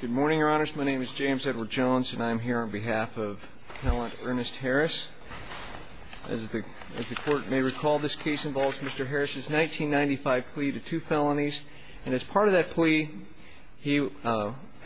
Good morning, your honors. My name is James Edward Jones and I'm here on behalf of Appellant Ernest Harris. As the court may recall this case involves Mr. Harris's 1995 plea to two felonies and as part of that plea he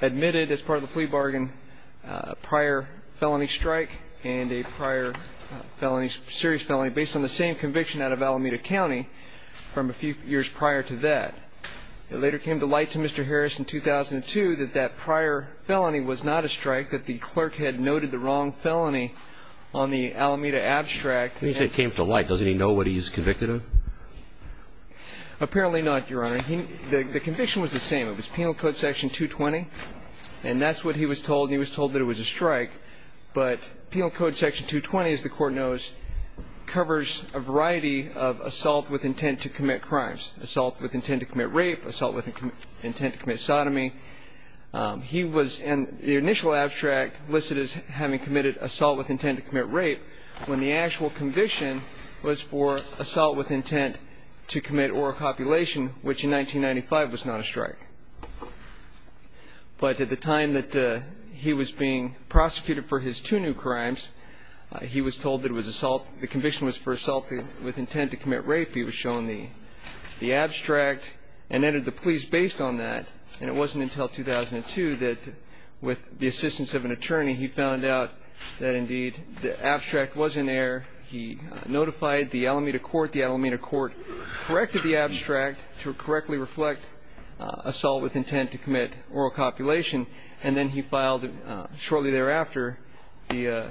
admitted as part of the plea bargain a prior felony strike and a prior felony serious felony based on the same conviction out of Alameda County from a few years prior to that. It later came to light to Mr. Harris in 2002 that that prior felony was not a strike that the clerk had noted the wrong felony on the Alameda abstract. When you say it came to light doesn't he know what he's convicted of? Apparently not, your honor. The conviction was the same. It was Penal Code Section 220 and that's what he was told. He was told that it was a strike but Penal Code Section 220 as the court knows covers a variety of assault with intent to commit rape, assault with intent to commit sodomy. He was in the initial abstract listed as having committed assault with intent to commit rape when the actual conviction was for assault with intent to commit oral copulation which in 1995 was not a strike. But at the time that he was being prosecuted for his two new crimes he was told that it was assault the conviction was for assault with intent to commit rape. He was shown the abstract and entered the pleas based on that and it wasn't until 2002 that with the assistance of an attorney he found out that indeed the abstract was in there. He notified the Alameda court. The Alameda court corrected the abstract to correctly reflect assault with intent to commit oral copulation and then he filed it shortly thereafter the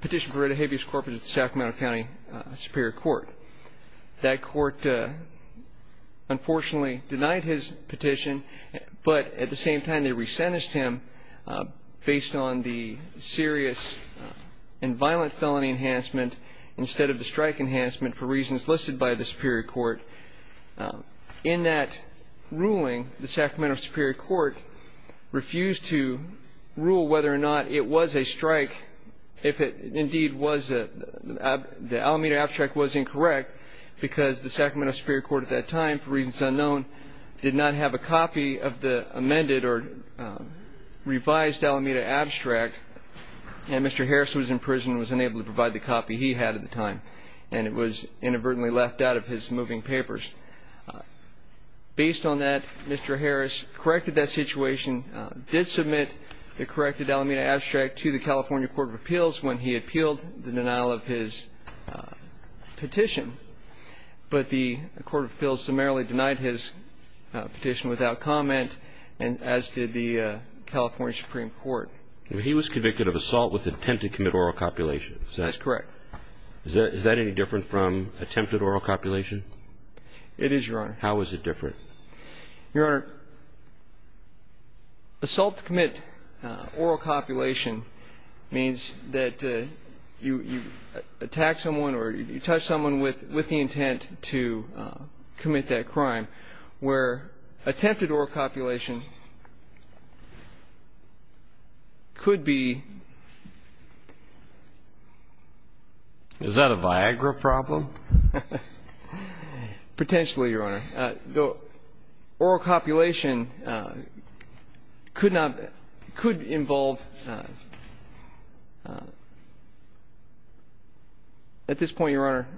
petition for writ of habeas corpus at Sacramento County Superior Court. That court unfortunately denied his petition but at the same time they re-sentenced him based on the serious and violent felony enhancement instead of the strike enhancement for reasons listed by the Superior Court. In that ruling the Sacramento Superior Court refused to the Alameda abstract was incorrect because the Sacramento Superior Court at that time for reasons unknown did not have a copy of the amended or revised Alameda abstract and Mr. Harris was in prison was unable to provide the copy he had at the time and it was inadvertently left out of his moving papers. Based on that Mr. Harris corrected that situation did submit the corrected Alameda abstract to the California Court of Appeals when he appealed the denial of his petition but the Court of Appeals summarily denied his petition without comment and as did the California Supreme Court. He was convicted of assault with intent to commit oral copulation. That's correct. Is that any different from attempted oral copulation? It is your honor. How is it different? Your attempted oral copulation could be. Is that a Viagra problem? Potentially your honor. Oral copulation could not, could involve, could involve, you know, committing a crime. At this point your honor.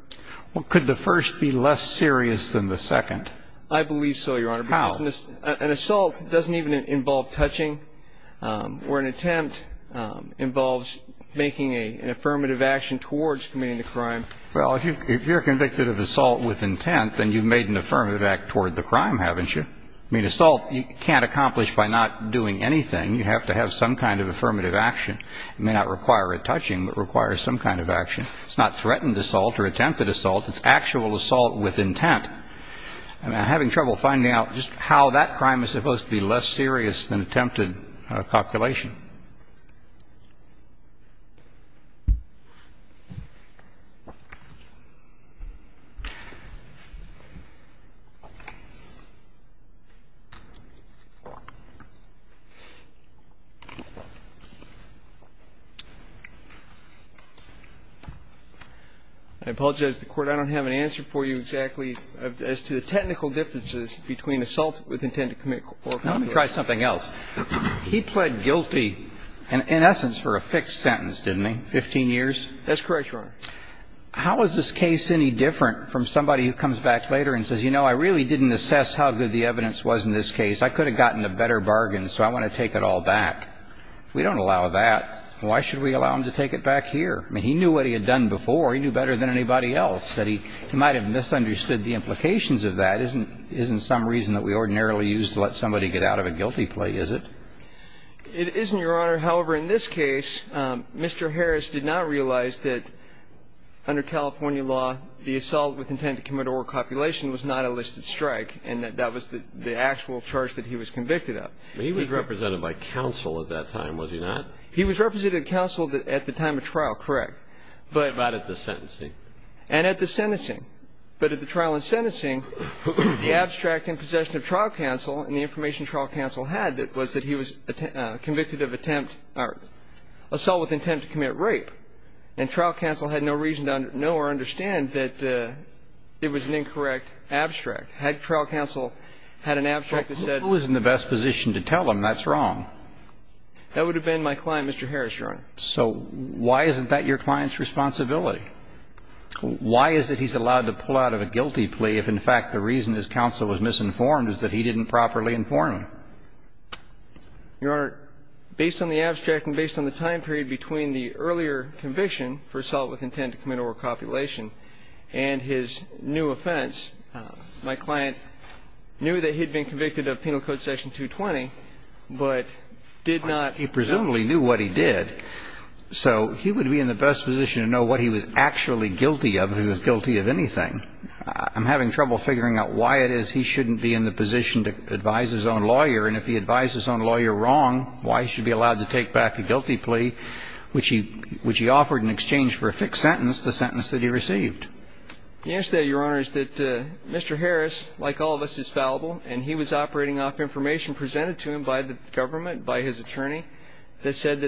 Well, could the first be less serious than the second? I believe so your honor. How? An assault doesn't even involve touching or an attempt involves making an affirmative action towards committing the crime. Well, if you're convicted of assault with intent then you've made an affirmative act toward the crime, haven't you? I mean assault you can't accomplish by not doing anything. You have to have some kind of affirmative action. It may not require a touching but requires some kind of action. It's not threatened assault or attempted assault. It's actual assault with intent. I'm having trouble finding out just how that crime is supposed to be less serious than attempted copulation. I apologize to the Court. I don't have an answer for you exactly as to the technical differences between assault with intent and committed copulation. Let me try something else. He pled guilty, in essence, for a fixed sentence, didn't he? 15 years? That's correct, your honor. How is this case any different from somebody who comes back later and says, you know, I really didn't assess how good the evidence was in this case. I could have gotten a better bargain, so I want to take it all back. We don't allow that. Why should we allow him to take it back here? I mean, he knew what he had done before. He knew better than anybody else. He might have misunderstood the implications of that. That isn't some reason that we ordinarily use to let somebody get out of a guilty plea, is it? It isn't, your honor. However, in this case, Mr. Harris did not realize that under California law, the assault with intent to commit or copulation was not a listed strike, and that that was the actual charge that he was convicted of. He was represented by counsel at that time, was he not? He was represented by counsel at the time of trial, correct, but What about at the sentencing? And at the sentencing. But at the trial and sentencing, the abstract in possession of trial counsel and the information trial counsel had was that he was convicted of attempt or assault with intent to commit rape. And trial counsel had no reason to know or understand that it was an incorrect abstract. Had trial counsel had an abstract that said Who is in the best position to tell him that's wrong? That would have been my client, Mr. Harris, your honor. So why isn't that your client's responsibility? Why is it he's allowed to pull out of a guilty plea if, in fact, the reason his counsel was misinformed is that he didn't properly inform him? Your honor, based on the abstract and based on the time period between the earlier conviction for assault with intent to commit or copulation and his new offense, my client knew that he had been convicted of penal code section 220, but did not He presumably knew what he did. So he would be in the best position to know what he was actually guilty of, if he was guilty of anything. I'm having trouble figuring out why it is he shouldn't be in the position to advise his own lawyer. And if he advised his own lawyer wrong, why should he be allowed to take back the guilty plea, which he offered in exchange for a fixed sentence, the sentence that he received? The answer to that, your honor, is that Mr. Harris, like all of us, is fallible. And he was operating off information presented to him by the government, by his lawyer, Mr. Harris. He assumed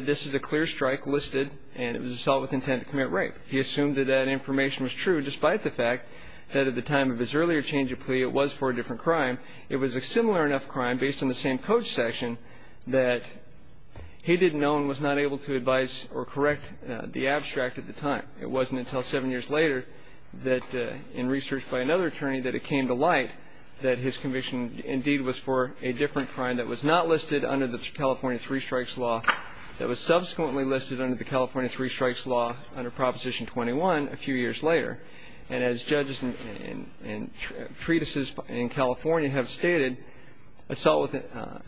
that that information was true, despite the fact that at the time of his earlier change of plea, it was for a different crime. It was a similar enough crime, based on the same code section, that he didn't know and was not able to advise or correct the abstract at the time. It wasn't until seven years later that, in research by another attorney, that it came to light that his conviction indeed was for a different crime that was not And as judges and treatises in California have stated, assault with intent,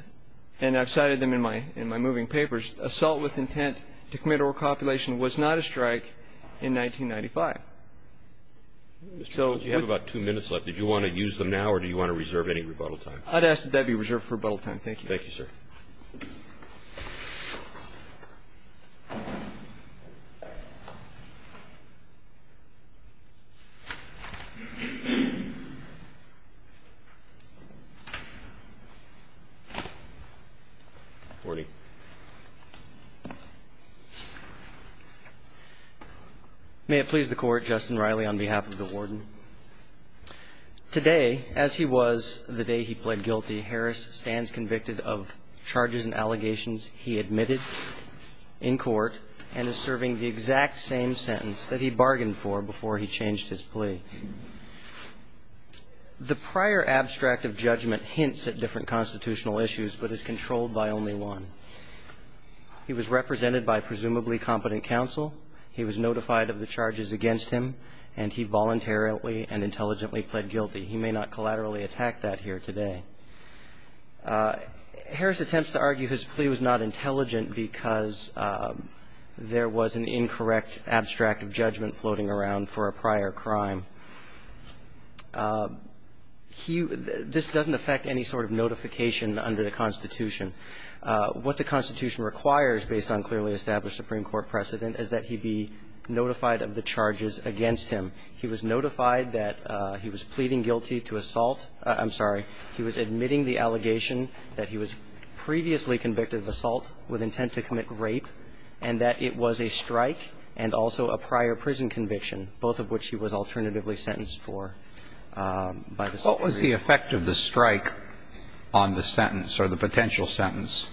and I have cited them in my moving papers, assault with intent to commit or a copulation was not a strike in 1995. Mr. Jones, you have about two minutes left. Did you want to use them now, or do you want to reserve any rebuttal time? I would ask that that be reserved for rebuttal time. Thank you. Thank you, sir. May it please the Court, Justin Riley on behalf of the warden. Today, as he was the day he pled guilty, Harris stands convicted of charges and allegations he admitted in court and is serving the exact same sentence that he bargained for before he changed his plea. The prior abstract of judgment hints at different constitutional issues but is controlled by only one. He was represented by presumably competent counsel, he was notified of the charges against him, and he voluntarily and intelligently pled guilty. He may not collaterally attack that here today. Harris attempts to argue his plea was not intelligent because there was an incorrect abstract of judgment floating around for a prior crime. He – this doesn't affect any sort of notification under the Constitution. What the Constitution requires, based on clearly established Supreme Court precedent, is that he be notified of the charges against him. He was notified that he was pleading guilty to assault – I'm sorry. He was admitting the allegation that he was previously convicted of assault with intent to commit rape and that it was a strike and also a prior prison conviction, both of which he was alternatively sentenced for by the Supreme Court. What was the effect of the strike on the sentence or the potential sentence?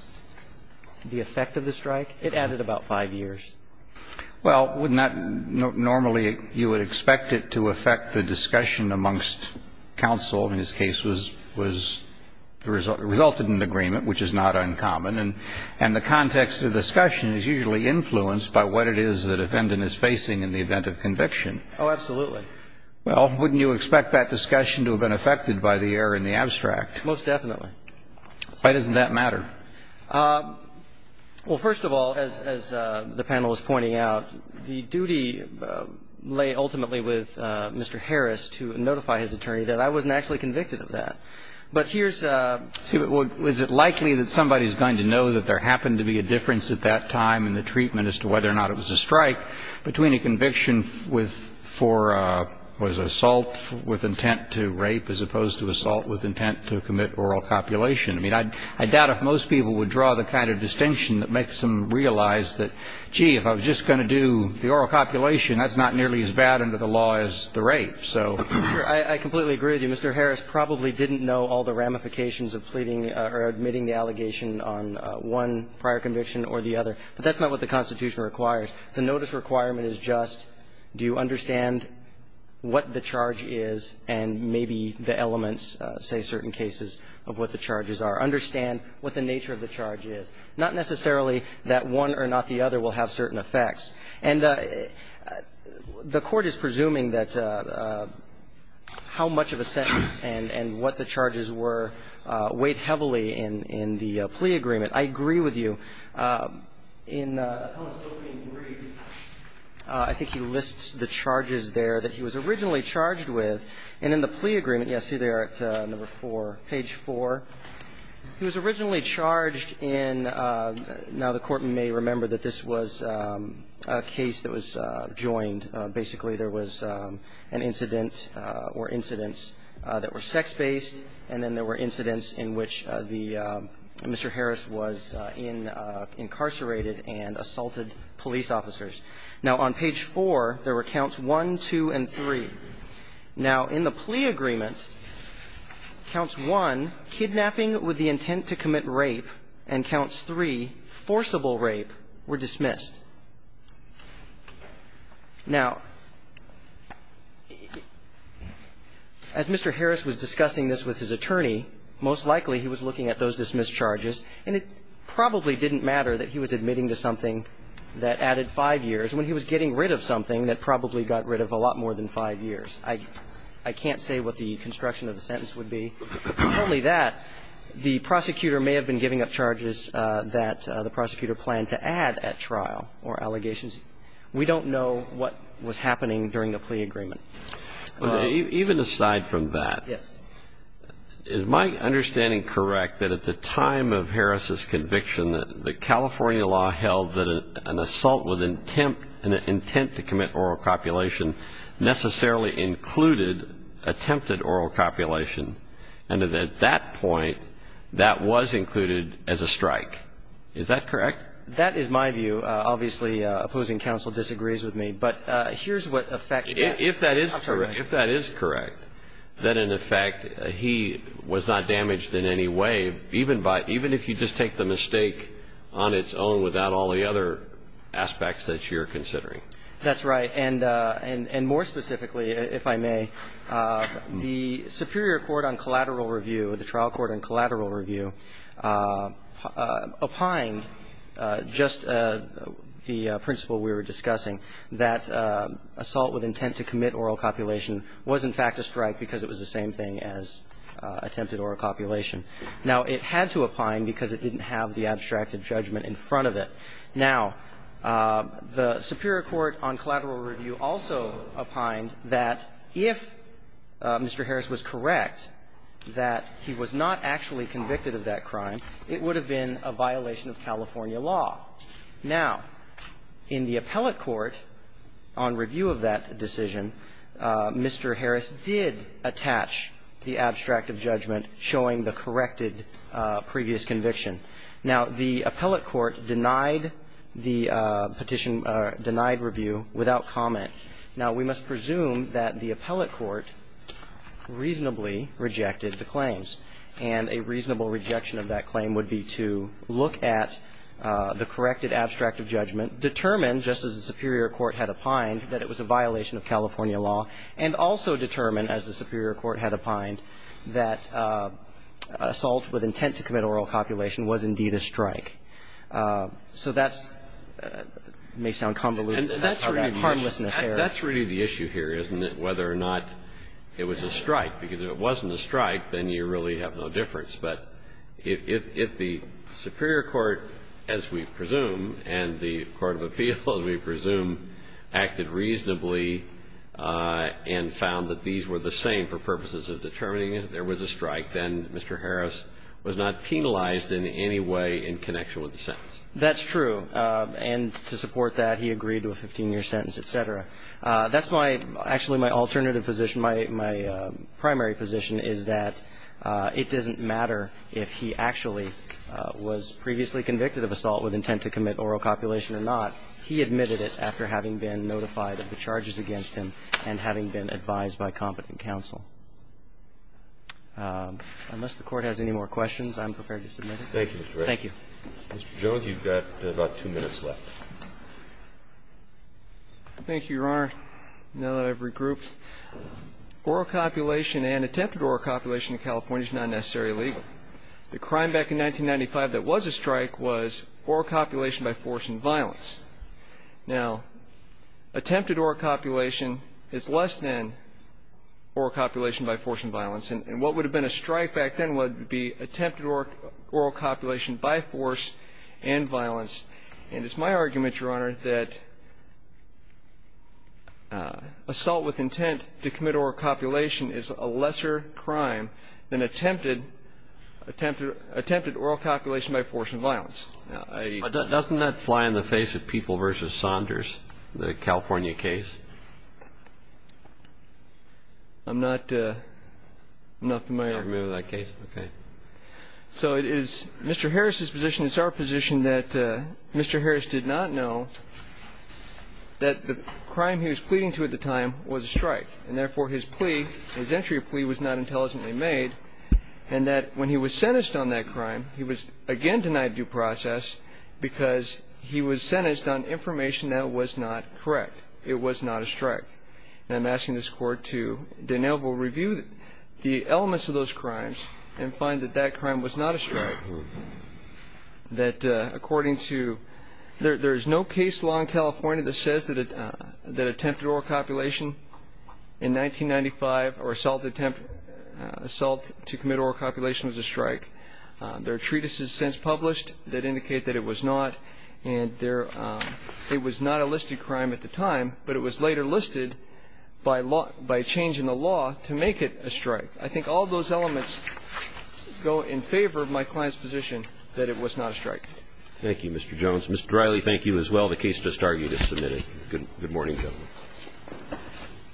The effect of the strike? It added about five years. Well, wouldn't that – normally you would expect it to affect the discussion amongst counsel. In this case, it resulted in an agreement, which is not uncommon. And the context of the discussion is usually influenced by what it is the defendant is facing in the event of conviction. Oh, absolutely. Well, wouldn't you expect that discussion to have been affected by the error in the abstract? Most definitely. Why doesn't that matter? Well, first of all, as the panel is pointing out, the duty lay ultimately with Mr. Harris to notify his attorney that I wasn't actually convicted of that. But here's a – Well, is it likely that somebody is going to know that there happened to be a difference at that time in the treatment as to whether or not it was a strike between a conviction with – for, what is it, assault with intent to rape as opposed to assault with intent to commit oral copulation? I mean, I doubt if most people would draw the kind of distinction that makes them realize that, gee, if I was just going to do the oral copulation, that's not nearly as bad under the law as the rape. So – I completely agree with you. Mr. Harris probably didn't know all the ramifications of pleading or admitting the allegation on one prior conviction or the other. But that's not what the Constitution requires. The notice requirement is just do you understand what the charge is and maybe the charges are. Understand what the nature of the charge is. Not necessarily that one or not the other will have certain effects. And the Court is presuming that how much of a sentence and what the charges were weighed heavily in the plea agreement. I agree with you. In Appellant's opening brief, I think he lists the charges there that he was originally charged with. And in the plea agreement – yes, see there at number 4, page 4. He was originally charged in – now, the Court may remember that this was a case that was joined. Basically, there was an incident or incidents that were sex-based, and then there were incidents in which the – Mr. Harris was incarcerated and assaulted police officers. Now, on page 4, there were counts 1, 2, and 3. Now, in the plea agreement, counts 1, kidnapping with the intent to commit rape, and counts 3, forcible rape, were dismissed. Now, as Mr. Harris was discussing this with his attorney, most likely he was looking at those dismissed charges, and it probably didn't matter that he was admitting to something that added 5 years when he was getting rid of something that probably got rid of a lot more than 5 years. I can't say what the construction of the sentence would be. Only that the prosecutor may have been giving up charges that the prosecutor planned to add at trial or allegations. We don't know what was happening during the plea agreement. Even aside from that, is my understanding correct that at the time of Harris's conviction, the California law held that an assault with intent to commit oral copulation necessarily included attempted oral copulation, and that at that point, that was included as a strike? Is that correct? That is my view. Obviously, opposing counsel disagrees with me. But here's what effect that has. If that is correct, then, in effect, he was not damaged in any way, even if you just take the mistake on its own without all the other aspects that you're considering. That's right. And more specifically, if I may, the Superior Court on Collateral Review, the trial court on collateral review, opined, just the principle we were discussing, that assault with intent to commit oral copulation was, in fact, a strike because it was the same thing as attempted oral copulation. Now, it had to opine because it didn't have the abstracted judgment in front of it. Now, the Superior Court on Collateral Review also opined that if Mr. Harris was correct that he was not actually convicted of that crime, it would have been a violation of California law. Now, in the appellate court, on review of that decision, Mr. Harris did attach the abstracted judgment showing the corrected previous conviction. Now, the appellate court denied the petition, denied review without comment. Now, we must presume that the appellate court reasonably rejected the claims. And a reasonable rejection of that claim would be to look at the corrected abstracted judgment, determine, just as the Superior Court had opined, that it was a violation of California law, and also determine, as the Superior Court had opined, that assault with intent to commit oral copulation was, indeed, a strike. So that's may sound convoluted, but that's really the issue here, isn't it, whether or not it was a strike, because if it wasn't a strike, then you really have no difference. But if the Superior Court, as we presume, and the court of appeals, we presume, acted reasonably and found that these were the same for purposes of determining that there was a strike, then Mr. Harris was not penalized in any way in connection with the sentence. That's true. And to support that, he agreed to a 15-year sentence, et cetera. That's my – actually, my alternative position, my primary position is that it doesn't matter if he actually was previously convicted of assault with intent to commit oral copulation or not. He admitted it after having been notified of the charges against him and having been advised by competent counsel. Unless the Court has any more questions, I'm prepared to submit it. Thank you, Mr. Harris. Thank you. Mr. Jones, you've got about two minutes left. Thank you, Your Honor. Now that I've regrouped, oral copulation and attempted oral copulation in California is not necessarily illegal. The crime back in 1995 that was a strike was oral copulation by force and violence. Now, attempted oral copulation is less than oral copulation by force and violence. And what would have been a strike back then would be attempted oral copulation by force and violence. And it's my argument, Your Honor, that assault with intent to commit oral copulation is a lesser crime than attempted – attempted oral copulation by force and violence. Now, I – But doesn't that fly in the face of People v. Saunders, the California case? I'm not – I'm not familiar. You're not familiar with that case? Okay. So it is Mr. Harris's position, it's our position that Mr. Harris did not know that the crime he was pleading to at the time was a strike. And therefore, his plea, his entry of plea was not intelligently made, and that when he was sentenced on that crime, he was again denied due process because he was sentenced on information that was not correct. It was not a strike. And I'm asking this Court to de novo review the elements of those crimes and find that that crime was not a strike. That according to – there is no case law in California that says that attempted oral copulation was a strike. There are treatises since published that indicate that it was not, and there – it was not a listed crime at the time, but it was later listed by law – by a change in the law to make it a strike. I think all those elements go in favor of my client's position that it was not a strike. Thank you, Mr. Jones. Mr. Dreily, thank you as well. The case does start. You just submitted it. Good morning, gentlemen.